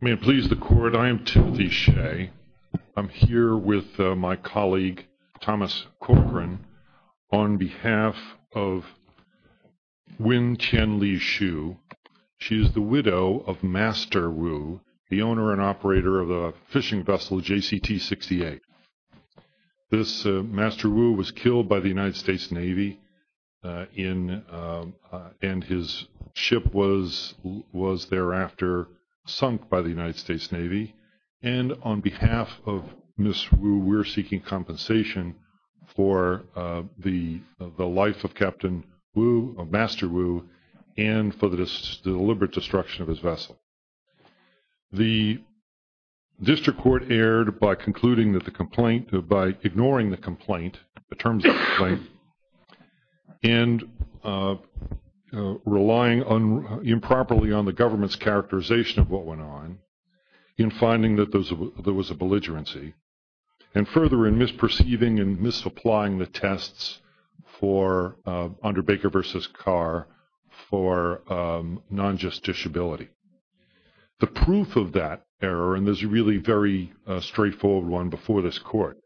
May it please the Court, I am Timothy Shea. I am here with my colleague Thomas Corcoran on behalf of Wyn Tien Li-Shou. She is the widow of Master Wu, the owner and operator of the fishing vessel JCT-68. This Master Wu was killed by the United States Navy and his ship was thereafter sunk by the United States Navy. And on behalf of Miss Wu, we are seeking compensation for the life of Master Wu and for the deliberate destruction of his District Court erred by ignoring the terms of the complaint and relying improperly on the government's characterization of what went on in finding that there was a belligerency and further in misperceiving and misapplying the tests under Baker v. Carr for non-just disability. The proof of that error, and there's a really very straightforward one before this Court,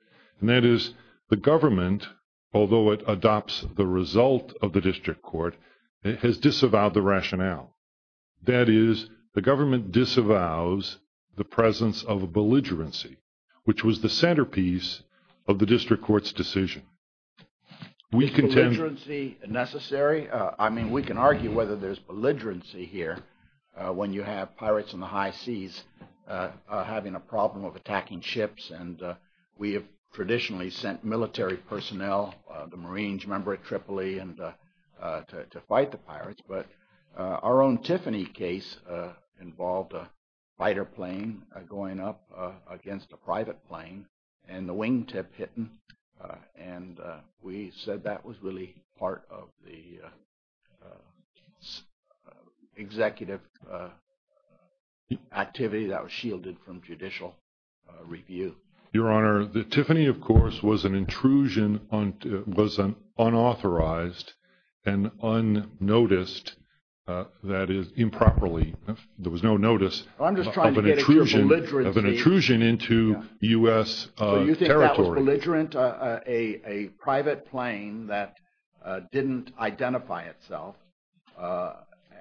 and that is the government, although it adopts the result of the District Court, it has disavowed the rationale. That is, the government disavows the presence of a belligerency, which was the centerpiece of the District Court's decision. Is belligerency necessary? I mean, we can argue whether there's belligerency here when you have pirates in the high seas having a problem of attacking ships. And we have traditionally sent military personnel, the Marines, remember at Tripoli, to fight the pirates. But our own Tiffany case involved a fighter plane going up against a private plane and the wingtip hit him. And we said that was really part of the executive activity that was shielded from judicial review. Your Honor, Tiffany, of course, was an intrusion, was unauthorized and unnoticed, that is, improperly. There was no notice of an intrusion into U.S. territory. So you think that was belligerent, a private plane that didn't identify itself?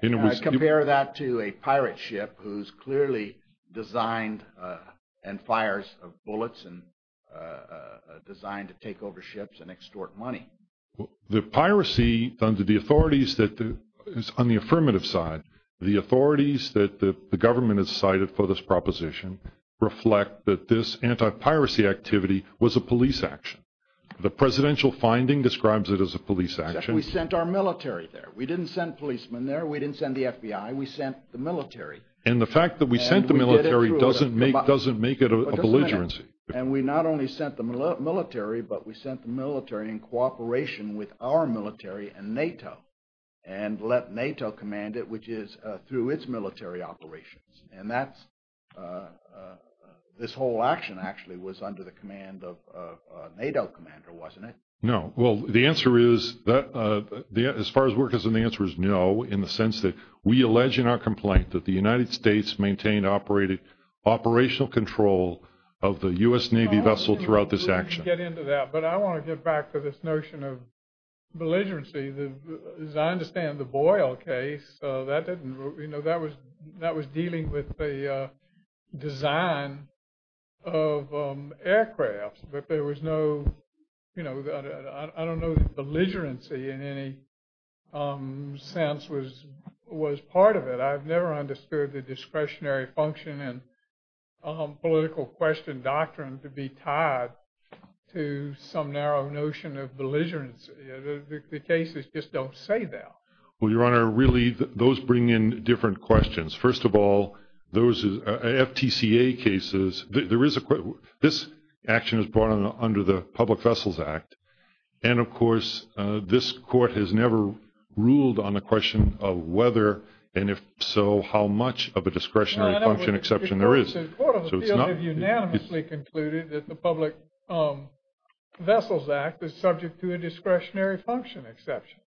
And compare that to a pirate ship who's clearly designed and fires bullets and designed to take over ships and extort money. The piracy under the authorities that, on the affirmative side, the authorities that the government has cited for this proposition reflect that this anti-piracy activity was a police action. The presidential finding describes it as a police action. We sent our military there. We didn't send policemen there. We didn't send the FBI. We sent the military. And the fact that we sent the military doesn't make it a belligerency. And we not only sent the military, but we sent the military in cooperation with our military and NATO and let NATO command it, which is through its military operations. And this whole action actually was under the command of a NATO commander, wasn't it? No. Well, the answer is, as far as we're concerned, the answer is no, in the sense that we allege in our complaint that the United States maintained operational control of the U.S. Navy vessel throughout this action. Let's get into that. But I want to get back to this notion of belligerency. As I understand, the Boyle case, that was dealing with the design of aircrafts. But there was no, I don't know if belligerency in any sense was part of it. I've never understood the discretionary function and political question doctrine to be tied to some narrow notion of belligerency. The cases just don't say that. Well, Your Honor, really those bring in different questions. First of all, those FTCA cases, this action is brought under the Public Vessels Act. And of course, this court has never ruled on the question of whether, and if so, how much of a discretionary function exception there is. The courts of the field have unanimously concluded that the Public Vessels Act is subject to a discretionary function exception.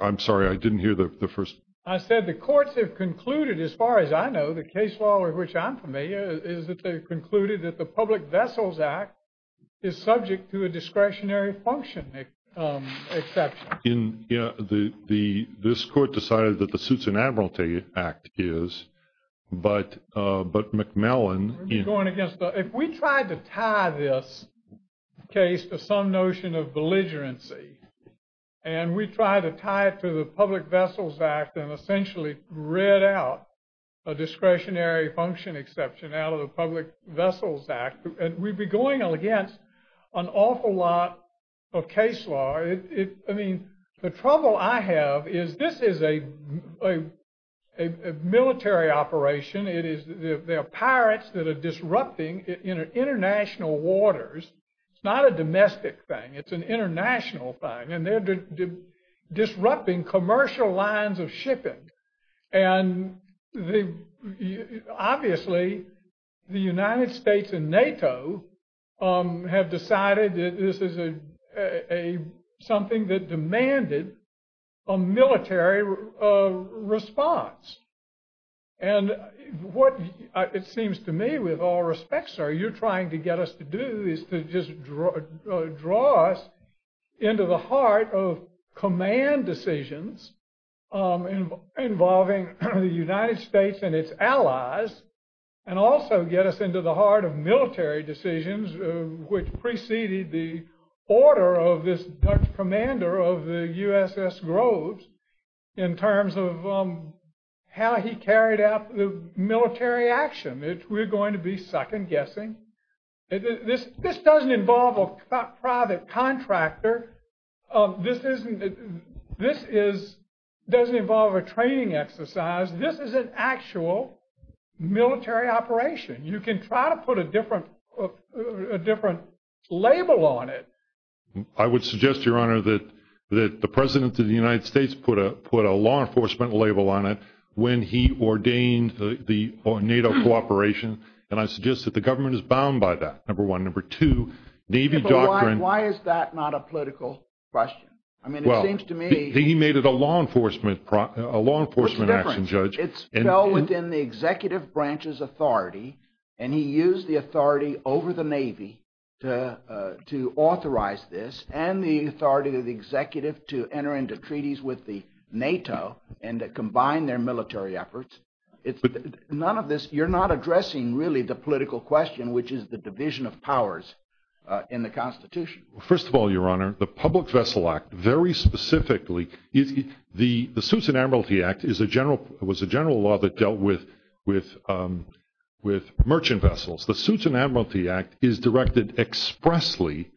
I'm sorry, I didn't hear the first. I said the courts have concluded, as far as I know, the case law of which I'm familiar, is that they concluded that the Public Vessels Act is subject to a discretionary function exception. This court decided that the Suits and Admiralty Act is, but McMillan... If we tried to tie this case to some notion of belligerency, and we try to tie it to the Public Vessels Act and essentially read out a discretionary function exception out of the Public Vessels Act, we'd be going against an awful lot of case law. I mean, there's a lot of things that are going against the Public Vessels Act, and the trouble I have is this is a military operation. They're pirates that are disrupting international waters. It's not a domestic thing. It's an international thing. And they're disrupting commercial lines of shipping. And obviously, the United States and NATO have decided that this is something that demands a mandated military response. And what it seems to me, with all respect, sir, you're trying to get us to do is to just draw us into the heart of command decisions involving the United States and its allies, and also get us into the heart of military decisions, which preceded the order of this Dutch commander of the USS Groves in terms of how he carried out the military action. We're going to be second guessing. This doesn't involve a private contractor. This doesn't involve a training exercise. This is an actual military operation. You can try to put a different label on it. I would suggest, Your Honor, that the President of the United States put a law enforcement label on it when he ordained the NATO cooperation. And I suggest that the government is bound by that, number one. Number two, Navy doctrine- Why is that not a political question? I mean, it seems to me- It fell within the executive branch's authority, and he used the authority over the Navy to authorize this, and the authority of the executive to enter into treaties with the NATO and combine their military efforts. You're not addressing, really, the political question, which is the division of powers in the Constitution. First of all, Your Honor, the Public Vessel Suits and Admiralty Act was a general law that dealt with merchant vessels. The Suits and Admiralty Act is directed expressly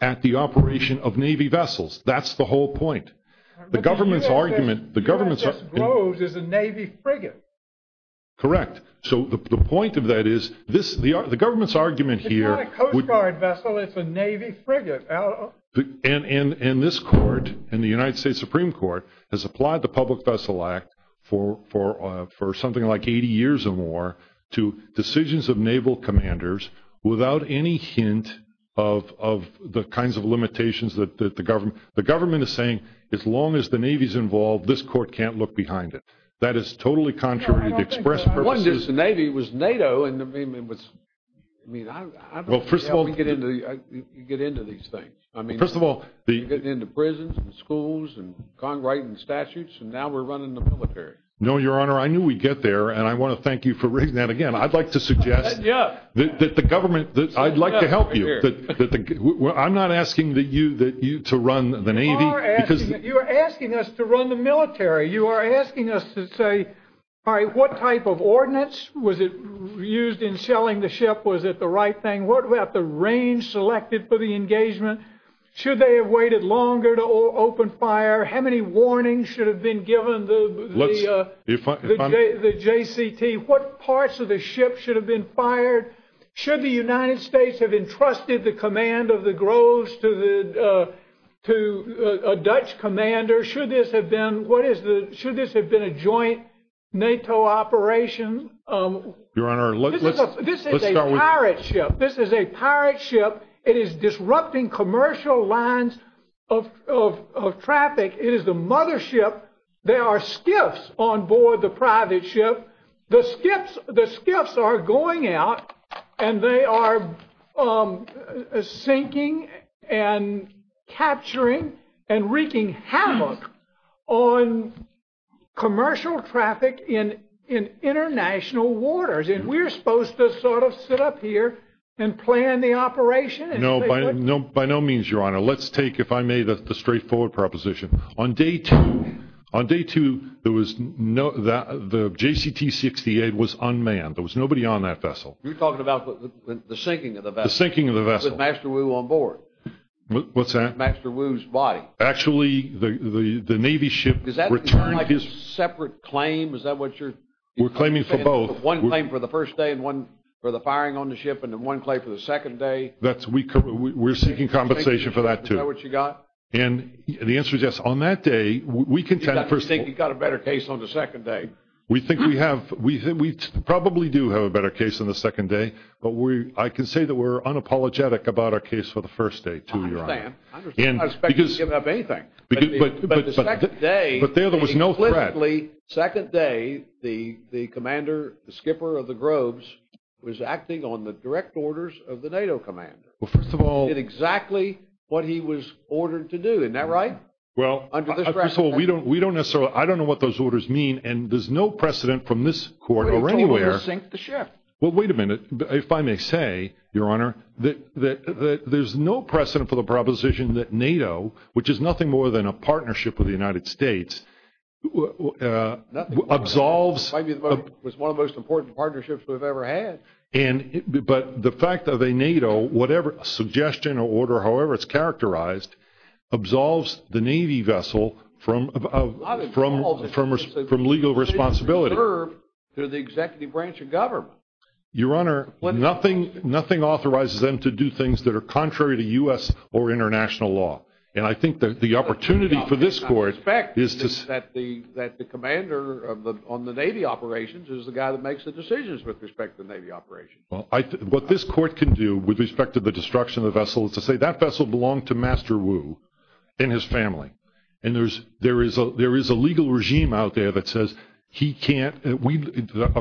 at the operation of Navy vessels. That's the whole point. The government's argument- The USS Groves is a Navy frigate. Correct. So the point of that is, the government's argument here- It's not a Coast Guard vessel. It's a Navy frigate. And this court, and the United States Supreme Court, has applied the Public Vessel Act for something like 80 years or more to decisions of Naval commanders without any hint of the kinds of limitations that the government- The government is saying, as long as the Navy's involved, this court can't look behind it. That is totally contrary to express purposes- One, just the Navy was NATO, and I mean, I don't know how we get into these things. First of all, the- We've gone right in the statutes, and now we're running the military. No, Your Honor, I knew we'd get there, and I want to thank you for that. Again, I'd like to suggest that the government- I'd like to help you. I'm not asking you to run the Navy- You are asking us to run the military. You are asking us to say, all right, what type of ordinance was used in shelling the ship? Was it the right thing? What about the range selected for the engagement? Should they have waited longer to open fire? How many warnings should have been given the JCT? What parts of the ship should have been fired? Should the United States have entrusted the command of the Groves to a Dutch commander? Should this have been a joint NATO operation? Your Honor, let's start with- It is disrupting commercial lines of traffic. It is the mothership. There are skiffs on board the private ship. The skiffs are going out, and they are sinking and capturing and wreaking havoc on commercial traffic in international waters. And we're supposed to sort of sit up here and plan the operation? No, by no means, Your Honor. Let's take, if I may, the straightforward proposition. On day two, there was no- the JCT 68 was unmanned. There was nobody on that vessel. You're talking about the sinking of the vessel? The sinking of the vessel. With Master Wu on board. What's that? Master Wu's body. Actually, the Navy ship- Does that sound like a separate claim? Is that what you're- We're claiming for both. One claim for the first day, for the firing on the ship, and then one claim for the second day. That's- we're seeking compensation for that, too. Is that what you got? And the answer is yes. On that day, we contend- You think you've got a better case on the second day? We think we have- we probably do have a better case on the second day, but I can say that we're unapologetic about our case for the first day, too, Your Honor. I understand. I understand. I don't expect you to give up anything. But the second day- But there, there was no threat. Second day, the commander, the skipper of the Groves, was acting on the direct orders of the NATO commander. Well, first of all- Did exactly what he was ordered to do. Isn't that right? Well- Under this- First of all, we don't- we don't necessarily- I don't know what those orders mean, and there's no precedent from this court or anywhere- We told him to sink the ship. Well, wait a minute. If I may say, Your Honor, that there's no precedent for the proposition that NATO, which is nothing more than a partnership with the United States, nothing more than a partnership with the United States- absolves- Might be one of the most important partnerships we've ever had. But the fact that a NATO, whatever suggestion or order, however it's characterized, absolves the Navy vessel from legal responsibility. They're the executive branch of government. Your Honor, nothing authorizes them to do things that are contrary to U.S. or international law. And I think that the opportunity for this court- That the commander on the Navy operations is the guy that makes the decisions with respect to the Navy operations. Well, what this court can do with respect to the destruction of the vessel is to say, that vessel belonged to Master Wu and his family. And there is a legal regime out there that says he can't-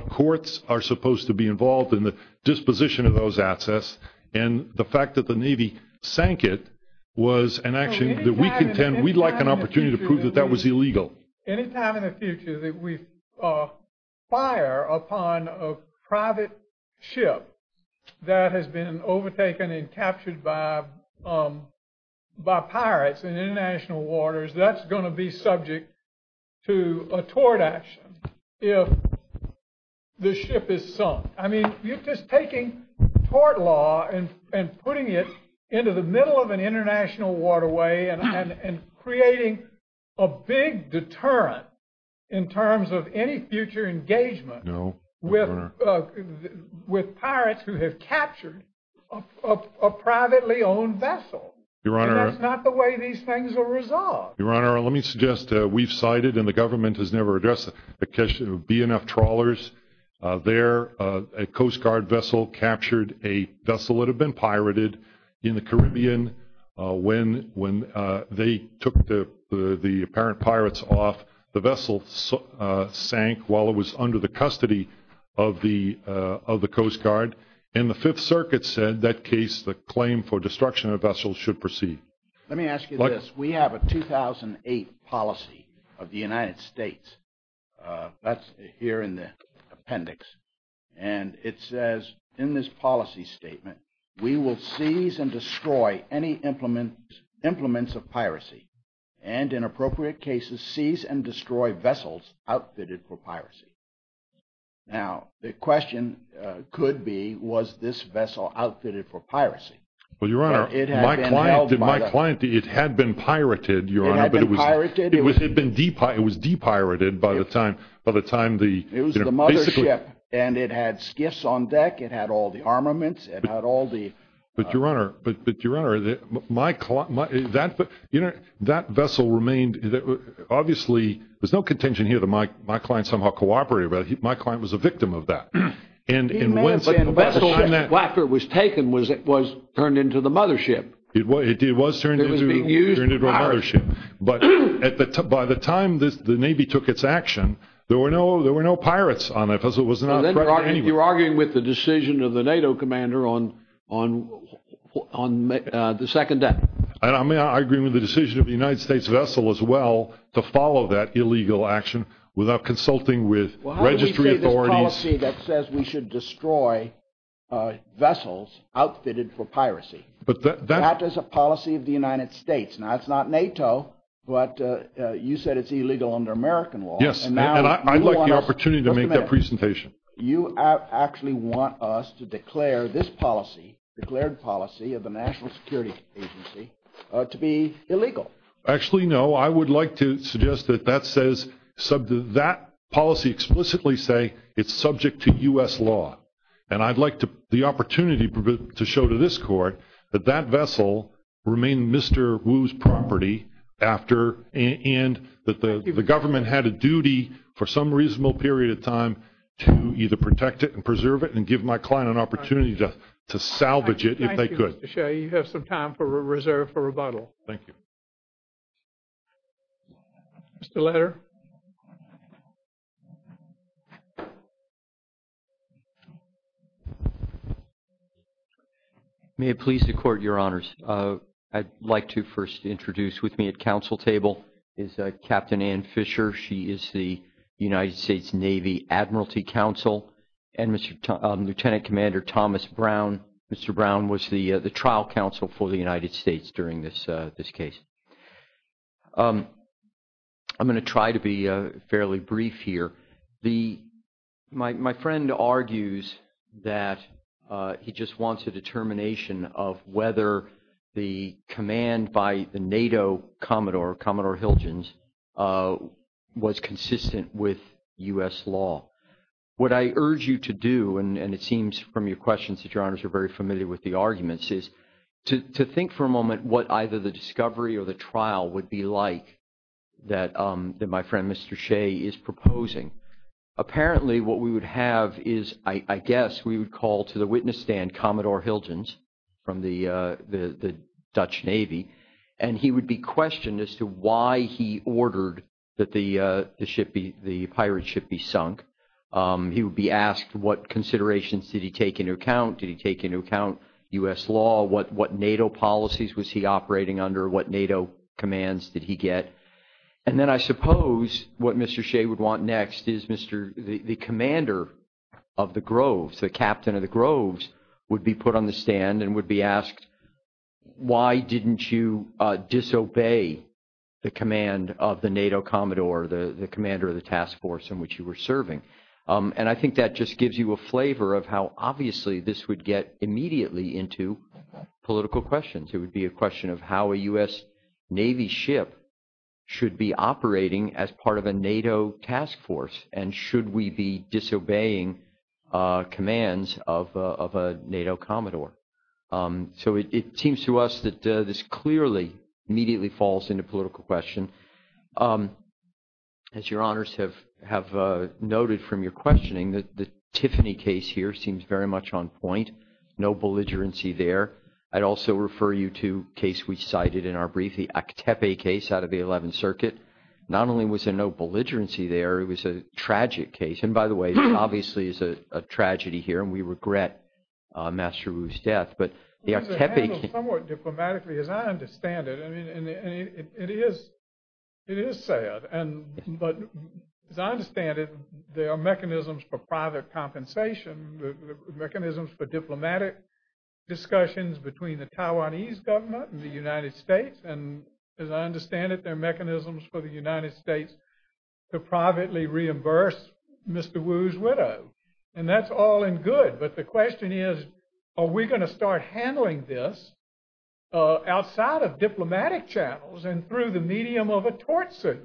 Courts are supposed to be involved in the disposition of those assets. And the fact that the Navy sank it was an action that we contend- Anytime in the future that we fire upon a private ship that has been overtaken and captured by pirates in international waters, that's going to be subject to a tort action if the ship is sunk. I mean, you're just taking tort law and putting it into the middle of an international waterway and creating a big deterrent in terms of any future engagement with pirates who have captured a privately owned vessel. Your Honor- And that's not the way these things are resolved. Your Honor, let me suggest we've cited, and the government has never addressed the question of BNF trawlers. There, a Coast Guard vessel captured a vessel that had been pirated in the Caribbean when they took the apparent pirates off. The vessel sank while it was under the custody of the Coast Guard. And the Fifth Circuit said that case, the claim for destruction of vessels should proceed. Let me ask you this. We have a 2008 policy of the United States. That's here in the appendix. And it says in this policy statement, we will seize and destroy any implements of piracy and in appropriate cases, seize and destroy vessels outfitted for piracy. Now, the question could be, was this vessel outfitted for piracy? Well, Your Honor, my client, it had been pirated, Your Honor. It had been pirated? It was de-pirated by the time the- It was the mothership and it had skiffs on deck. It had all the armaments. It had all the- But Your Honor, but Your Honor, that vessel remained, obviously, there's no contention here that my client somehow cooperated, but my client was a victim of that. He may have been, but after it was taken, it was turned into the mothership. It was turned into a mothership. But by the time the Navy took its action, there were no pirates on it because it was not pirated anyway. You're arguing with the decision of the NATO commander on the second deck. And I mean, I agree with the decision of the United States vessel as well to follow that illegal action without consulting with registry authorities. Well, how do you see this policy that says we should destroy vessels outfitted for piracy? That is a policy of the United States. Now, it's not NATO, but you said it's illegal under American law. Yes, and I'd like the opportunity to make that presentation. You actually want us to declare this policy, declared policy of the National Security Agency, to be illegal. Actually, no. I would like to suggest that that policy explicitly say it's subject to U.S. law. And I'd like the opportunity to show to this court that that vessel remained Mr. Wu's property after, to either protect it and preserve it and give my client an opportunity to salvage it if they could. Thank you, Mr. Shea. You have some time for a reserve for rebuttal. Thank you. Mr. Leder. May it please the court, Your Honors. I'd like to first introduce with me at council table is Captain Ann Fisher. She is the United States Navy Admiralty Counsel and Lieutenant Commander Thomas Brown. Mr. Brown was the trial counsel for the United States during this case. I'm going to try to be fairly brief here. My friend argues that he just wants a determination of whether the command by the NATO Commodore, Commodore Hilgens, was consistent with U.S. law. What I urge you to do, and it seems from your questions that Your Honors are very familiar with the arguments, is to think for a moment what either the discovery or the trial would be like that my friend, Mr. Shea, is proposing. Apparently, what we would have is, I guess, we would call to the witness stand Commodore Hilgens from the Dutch Navy, and he would be questioned as to why he ordered that the pirate ship be sunk. He would be asked what considerations did he take into account? Did he take into account U.S. law? What NATO policies was he operating under? What NATO commands did he get? And then I suppose what Mr. Shea would want next is the commander of the Groves, the captain of the Groves, would be put on the stand and would be asked, why didn't you disobey the command of the NATO Commodore, the commander of the task force in which you were serving? And I think that just gives you a flavor of how obviously this would get immediately into political questions. It would be a question of how a U.S. Navy ship should be operating as part of a NATO task force, and should we be disobeying commands of a NATO Commodore? So it seems to us that this clearly immediately falls into political question. As your honors have noted from your questioning, the Tiffany case here seems very much on point. No belligerency there. I'd also refer you to case we cited in our brief, the Actepe case out of the 11th Circuit. Not only was there no belligerency there, it was a tragic case. And by the way, obviously, it's a tragedy here, and we regret Master Wu's death. But the Actepe case- Somewhat diplomatically, as I understand it, I mean, it is sad. And but as I understand it, there are mechanisms for private compensation, mechanisms for diplomatic discussions between the Taiwanese government and the United States. And as I understand it, there are mechanisms for the United States to privately reimburse Mr. Wu's widow. And that's all in good. But the question is, are we going to start handling this outside of diplomatic channels and through the medium of a tortsuit?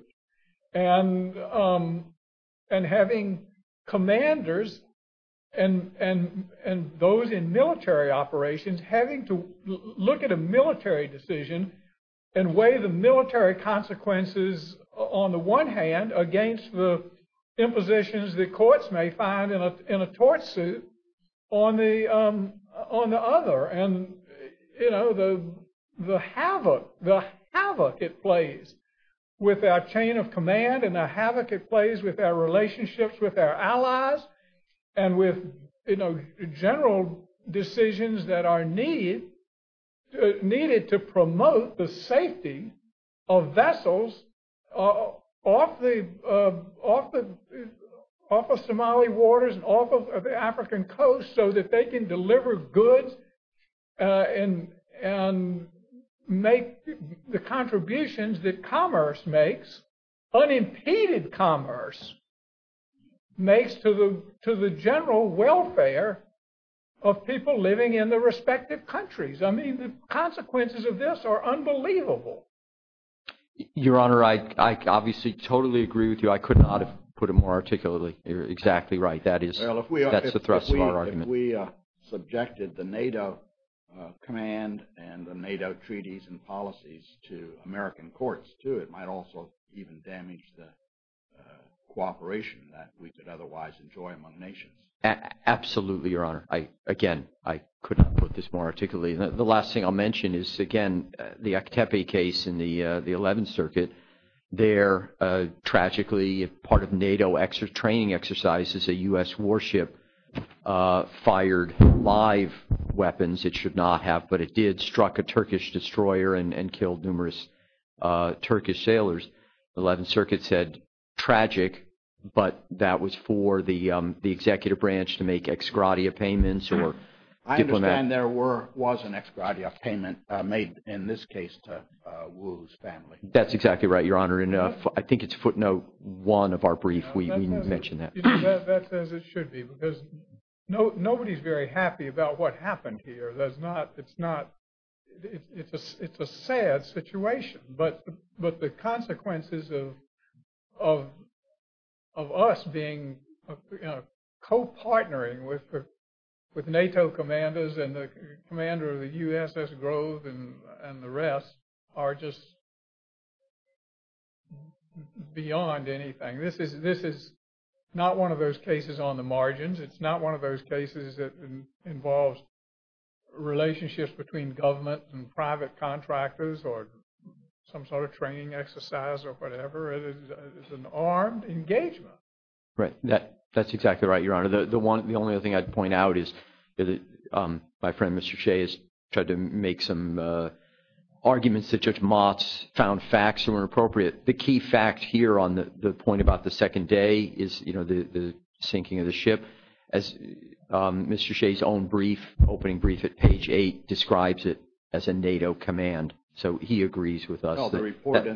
And having commanders and those in military operations having to look at a military decision and weigh the military consequences on the one hand against the impositions the courts may find in a tortsuit on the other. And the havoc it plays with our chain of command and the havoc it plays with our relationships with our allies and with general decisions that are needed to promote the safety of vessels off the Somali waters and off of the African coast so that they can deliver goods and make the contributions that commerce makes, unimpeded commerce, makes to the general welfare of people living in the respective countries. I mean, the consequences of this are unbelievable. Your Honor, I obviously totally agree with you. I could not have put it more articulately. You're exactly right. That's the thrust of our argument. If we subjected the NATO command and the NATO treaties and policies to American courts too, it might also even damage the cooperation that we could otherwise enjoy among nations. Absolutely, Your Honor. Again, I could not put this more articulately. The last thing I'll mention is, again, the Aktepe case in the 11th Circuit. There, tragically, part of NATO training exercises, a U.S. warship fired live weapons. It should not have, but it did, struck a Turkish destroyer and killed numerous Turkish sailors. The 11th Circuit said, tragic, but that was for the executive branch to make ex gratia payments. I understand there was an ex gratia payment made in this case to Wu's family. That's exactly right, Your Honor. And I think it's footnote one of our brief, we mentioned that. That's as it should be, because nobody's very happy about what happened here. It's a sad situation, but the consequences of us being, co-partnering with NATO commanders and the commander of the USS Grove and the rest are just beyond anything. This is not one of those cases on the margins. It's not one of those cases that involves relationships between government and private contractors or some sort of training exercise or whatever. It is an armed engagement. Right, that's exactly right, Your Honor. The only other thing I'd point out is that my friend, Mr. Shea, has tried to make some arguments that Judge Motz found facts that were inappropriate. The key fact here on the point about the second day is the sinking of the ship. As Mr. Shea's own brief, opening brief at page eight, describes it as a NATO command. So he agrees with us. No, the report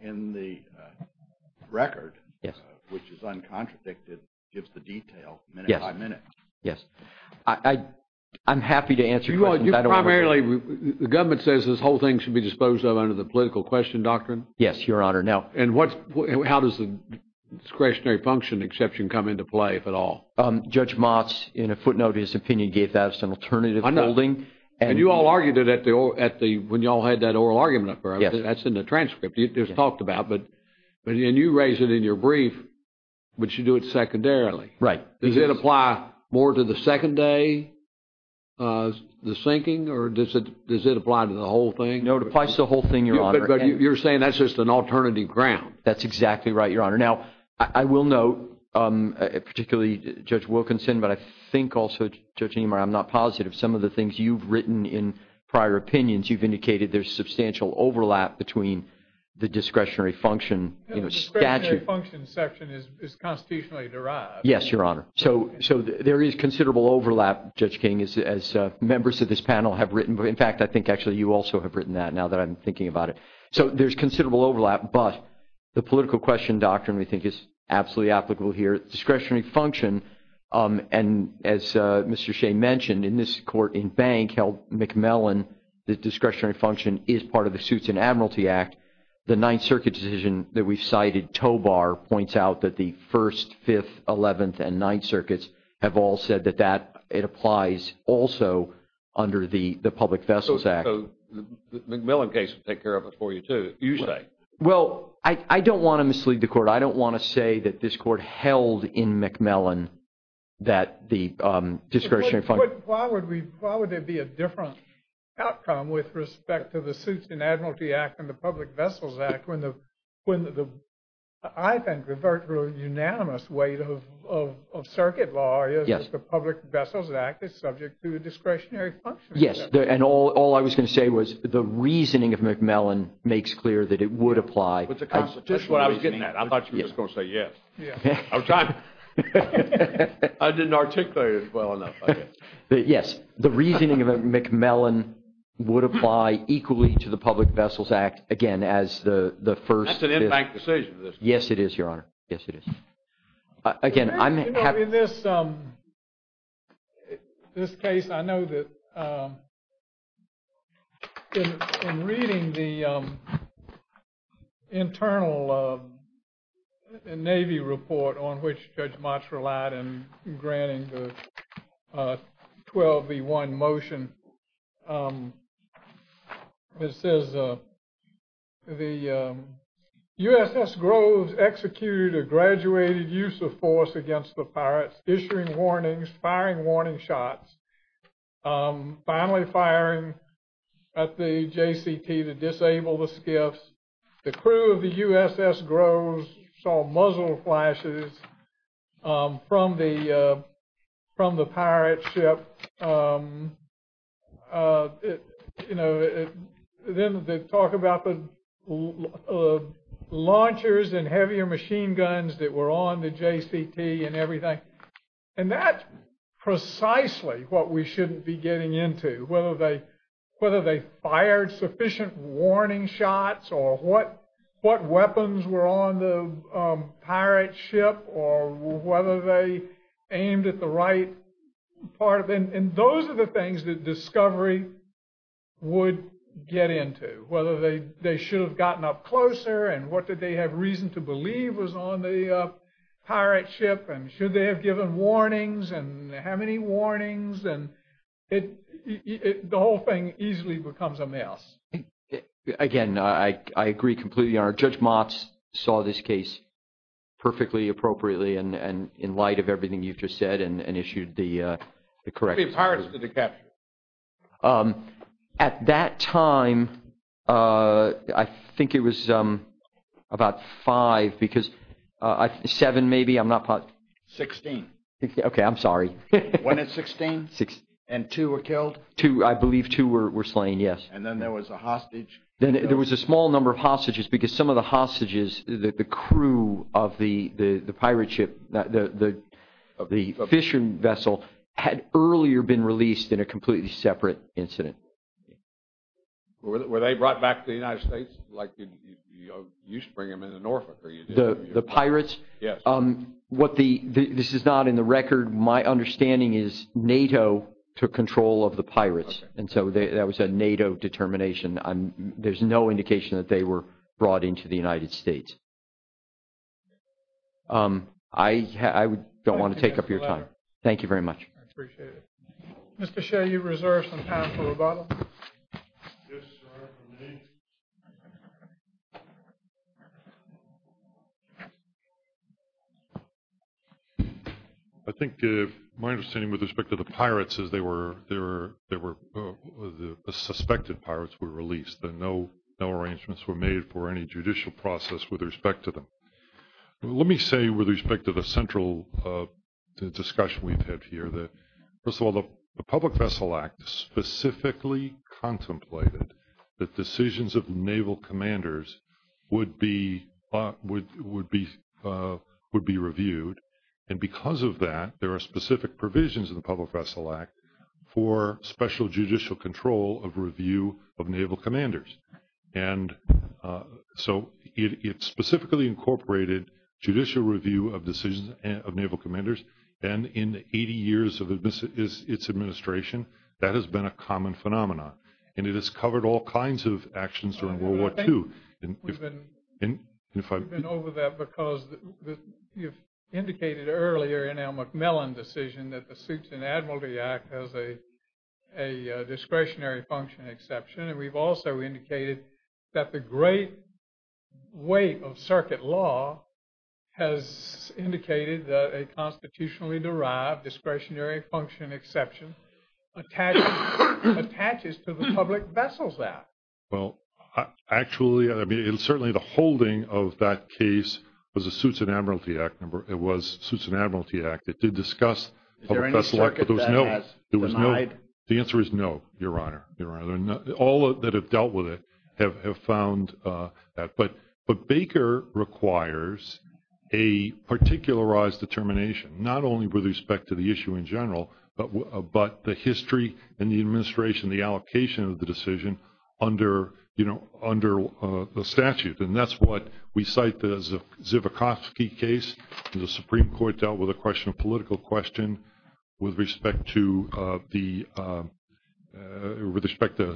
in the record, which is uncontradicted, gives the detail minute by minute. Yes, I'm happy to answer questions. You primarily, the government says this whole thing should be disposed of under the political question doctrine? Yes, Your Honor, no. How does the discretionary function exception come into play, if at all? Judge Motz, in a footnote of his opinion, gave that as an alternative holding. And you all argued it when you all had that oral argument. That's in the transcript. It's talked about, but you raise it in your brief, but you do it secondarily. Right. Does it apply more to the second day, the sinking, or does it apply to the whole thing? No, it applies to the whole thing, Your Honor. But you're saying that's just an alternative ground. That's exactly right, Your Honor. Now, I will note, particularly Judge Wilkinson, but I think also, Judge Niemeyer, I'm not positive. Some of the things you've written in prior opinions, you've indicated there's substantial overlap between the discretionary function statute. The discretionary function section is constitutionally derived. Yes, Your Honor. So there is considerable overlap, Judge King, as members of this panel have written. In fact, I think, actually, you also have written that, now that I'm thinking about it. So there's considerable overlap, but the political question doctrine, we think, is absolutely applicable here. Discretionary function, and as Mr. Shea mentioned, in this court, in Bank v. McMellon, the discretionary function is part of the Suits and Admiralty Act. The Ninth Circuit decision that we've cited, Tobar points out that the First, Fifth, Eleventh, and Ninth Circuits have all said that it applies also under the Public Vessels Act. So the McMillan case would take care of it for you, too, you say. Well, I don't want to mislead the Court. I don't want to say that this Court held in McMillan that the discretionary function... Why would there be a different outcome with respect to the Suits and Admiralty Act and Public Vessels Act when, I think, the very unanimous weight of circuit law is that the Public Vessels Act is subject to the discretionary function? Yes. And all I was going to say was the reasoning of McMillan makes clear that it would apply. With the constitutional reasoning. That's what I was getting at. I thought you were just going to say yes. I'm trying. I didn't articulate it well enough, I guess. Yes. The reasoning of McMillan would apply equally to the Public Vessels Act, again, as the First... That's an impact decision. Yes, it is, Your Honor. Yes, it is. Again, I'm... You know, in this case, I know that in reading the internal Navy report on which Judge Motz relied in granting the 12v1 motion, it says the USS Groves executed a graduated use of force against the pirates, issuing warnings, firing warning shots, finally firing at the JCT to from the pirate ship. You know, then they talk about the launchers and heavier machine guns that were on the JCT and everything. And that's precisely what we shouldn't be getting into. Whether they fired sufficient warning shots, or what weapons were on the pirate ship, or whether they aimed at the right part of it. And those are the things that discovery would get into. Whether they should have gotten up closer, and what did they have reason to believe was on the pirate ship, and should they have given warnings, and how many warnings. And the whole thing easily becomes a mess. Again, I agree completely, Your Honor. So, Judge Motz saw this case perfectly, appropriately, and in light of everything you've just said, and issued the correct... Three pirates did the capture. At that time, I think it was about five, because seven, maybe, I'm not... Sixteen. Okay, I'm sorry. One at 16, and two were killed. Two, I believe two were slain, yes. And then there was a hostage. Then there was a small number of hostages, because some of the hostages, the crew of the pirate ship, the fishing vessel, had earlier been released in a completely separate incident. Were they brought back to the United States? Like you used to bring them into Norfolk, or you didn't? The pirates? Yes. This is not in the record. My understanding is NATO took control of the pirates. And so that was a NATO determination. There's no indication that they were brought into the United States. I don't want to take up your time. Thank you very much. I appreciate it. Mr. Shea, you reserve some time for rebuttal. Yes, Your Honor, for me. I think my understanding with respect to the pirates is they were, the suspected pirates were released, and no arrangements were made for any judicial process with respect to them. Let me say with respect to the central discussion we've had here that, first of all, the Public Vessel Act specifically contemplated that decisions of naval commanders would be reviewed. And because of that, there are specific provisions in the Public Vessel Act for special judicial control of review of naval commanders. And so it specifically incorporated judicial review of decisions of naval commanders. And in 80 years of its administration, that has been a common phenomenon. And it has covered all kinds of actions during World War II. We've been over that because you've indicated earlier in our McMillan decision that the Suits and Admiralty Act has a discretionary function exception. And we've also indicated that the great weight of circuit law has indicated that a constitutionally derived discretionary function exception attaches to the Public Vessels Act. Well, actually, I mean, certainly the holding of that case was the Suits and Admiralty Act. It was Suits and Admiralty Act. It did discuss Public Vessel Act, but there was no... Is there any circuit that has denied? The answer is no, Your Honor. All that have dealt with it have found that. But Baker requires a particularized determination, not only with respect to the issue in general, but the history and the administration, the allocation of the decision under the statute. And that's what we cite the Zivakovsky case. The Supreme Court dealt with a question, a political question with respect to a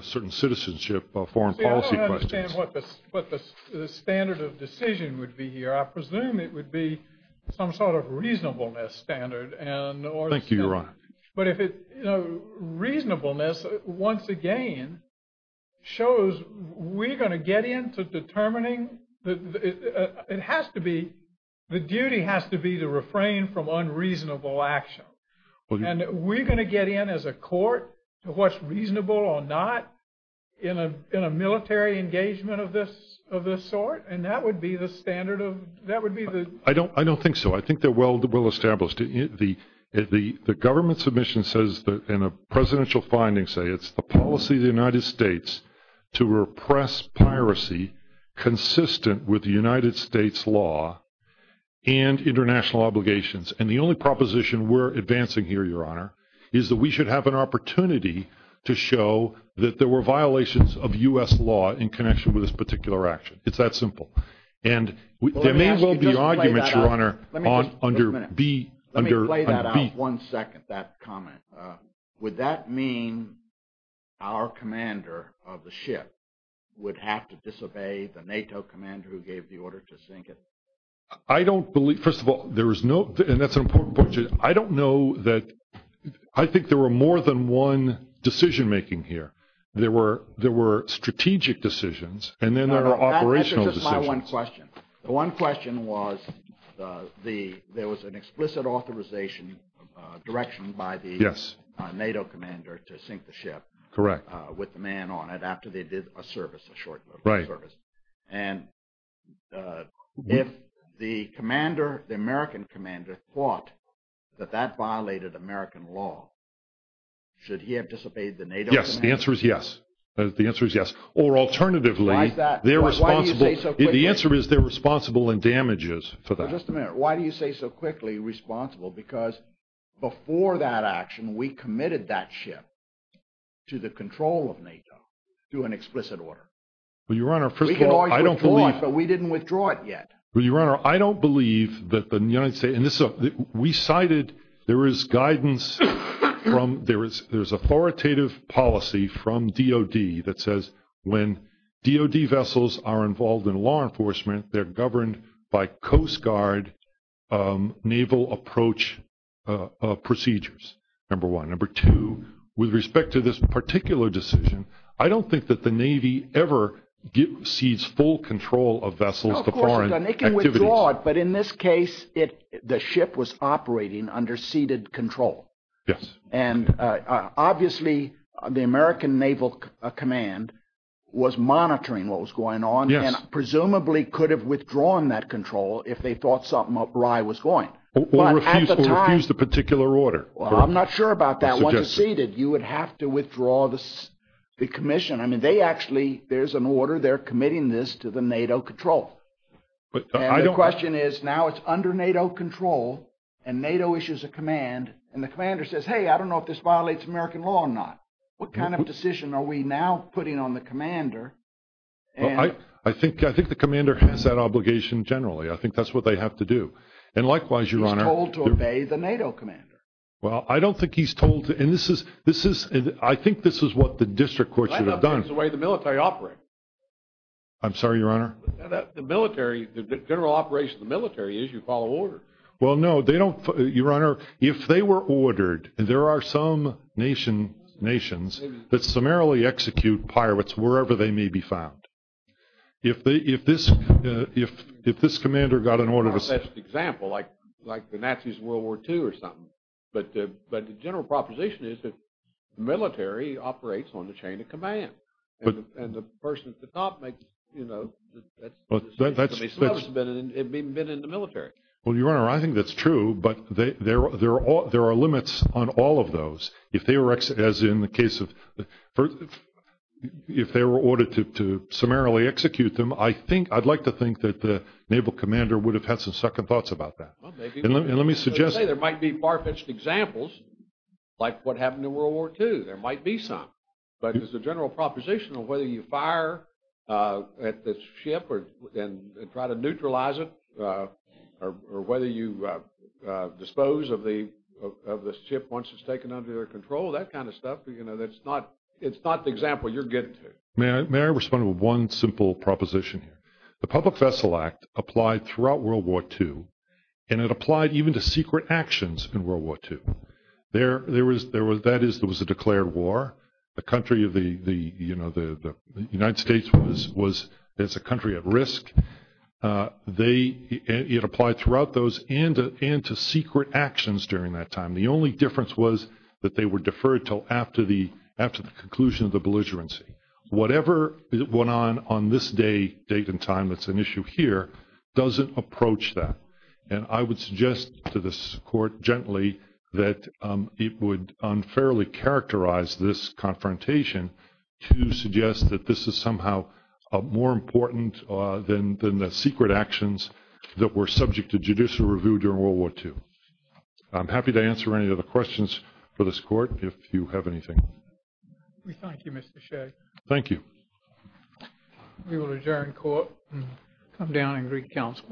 certain citizenship of foreign policy. But the standard of decision would be here. I presume it would be some sort of reasonableness standard. Thank you, Your Honor. But if it's reasonableness, once again, shows we're going to get into determining... It has to be... The duty has to be to refrain from unreasonable action. And we're going to get in as a court to what's reasonable or not in a military engagement of this sort. And that would be the standard of... That would be the... I don't think so. I think they're well established. The government submission says that in a presidential finding say, it's the policy of the United States to repress piracy, consistent with the United States law and international obligations. And the only proposition we're advancing here, Your Honor, is that we should have an opportunity to show that there were violations of U.S. law in connection with this particular action. It's that simple. And there may well be arguments, Your Honor, under B... Let me play that out one second, that comment. Would that mean our commander of the ship would have to disobey the NATO commander who gave the order to sink it? I don't believe... First of all, there is no... And that's an important point. I don't know that... I think there were more than one decision-making here. There were strategic decisions and then there are operational decisions. That's just my one question. The one question was there was an explicit authorization, direction by the NATO commander to sink the ship with the man on it after they did a service, a short-lived service. And if the commander, the American commander, thought that that violated American law, should he have disobeyed the NATO commander? Yes, the answer is yes. The answer is yes. Or alternatively, they're responsible... The answer is they're responsible in damages for that. Just a minute. Why do you say so quickly responsible? Because before that action, we committed that ship to the control of NATO through an explicit order. Well, Your Honor, first of all, I don't believe... But we didn't withdraw it yet. Well, Your Honor, I don't believe that the United States... And we cited there is guidance from... There's authoritative policy from DOD that says when DOD vessels are involved in law enforcement, they're governed by Coast Guard naval approach procedures, number one. Number two, with respect to this particular decision, I don't think that the Navy ever sees full control of vessels... Of course, Your Honor, they can withdraw it. But in this case, the ship was operating under ceded control. Yes. And obviously, the American Naval Command was monitoring what was going on. Yes. And presumably could have withdrawn that control if they thought something up right was going. Or refused a particular order. Well, I'm not sure about that. You would have to withdraw the commission. I mean, they actually... There's an order they're committing this to the NATO control. And the question is now it's under NATO control and NATO issues a command. And the commander says, hey, I don't know if this violates American law or not. What kind of decision are we now putting on the commander? I think the commander has that obligation generally. I think that's what they have to do. And likewise, Your Honor... He's told to obey the NATO commander. Well, I don't think he's told to... And this is... I think this is what the district court should have done. That's not the way the military operates. I'm sorry, Your Honor. The military... The general operation of the military is you follow order. Well, no, they don't... Your Honor, if they were ordered... There are some nations that summarily execute pirates wherever they may be found. If this commander got an order to... Not such an example like the Nazis in World War II or something. But the general proposition is that the military operates on the chain of command. But... And the person at the top makes, you know... It'd been in the military. Well, Your Honor, I think that's true. But there are limits on all of those. If they were... As in the case of... If they were ordered to summarily execute them, I think... I'd like to think that the naval commander would have had some second thoughts about that. And let me suggest... There might be far-fetched examples like what happened in World War II. There might be some. But there's a general proposition of whether you fire at the ship and try to neutralize it or whether you dispose of the ship once it's taken under their control, that kind of stuff. It's not the example you're getting to. May I respond to one simple proposition here? The Public Vessel Act applied throughout World War II. And it applied even to secret actions in World War II. That is, there was a declared war. The United States was a country at risk. It applied throughout those and to secret actions during that time. The only difference was that they were deferred till after the conclusion of the belligerency. Whatever went on on this day, date, and time that's an issue here doesn't approach that. And I would suggest to this court gently that it would unfairly characterize this confrontation to suggest that this is somehow more important than the secret actions that were subject to judicial review during World War II. I'm happy to answer any other questions for this court if you have anything. We thank you, Mr. Shea. Thank you. We will adjourn court and come down and greet counsel.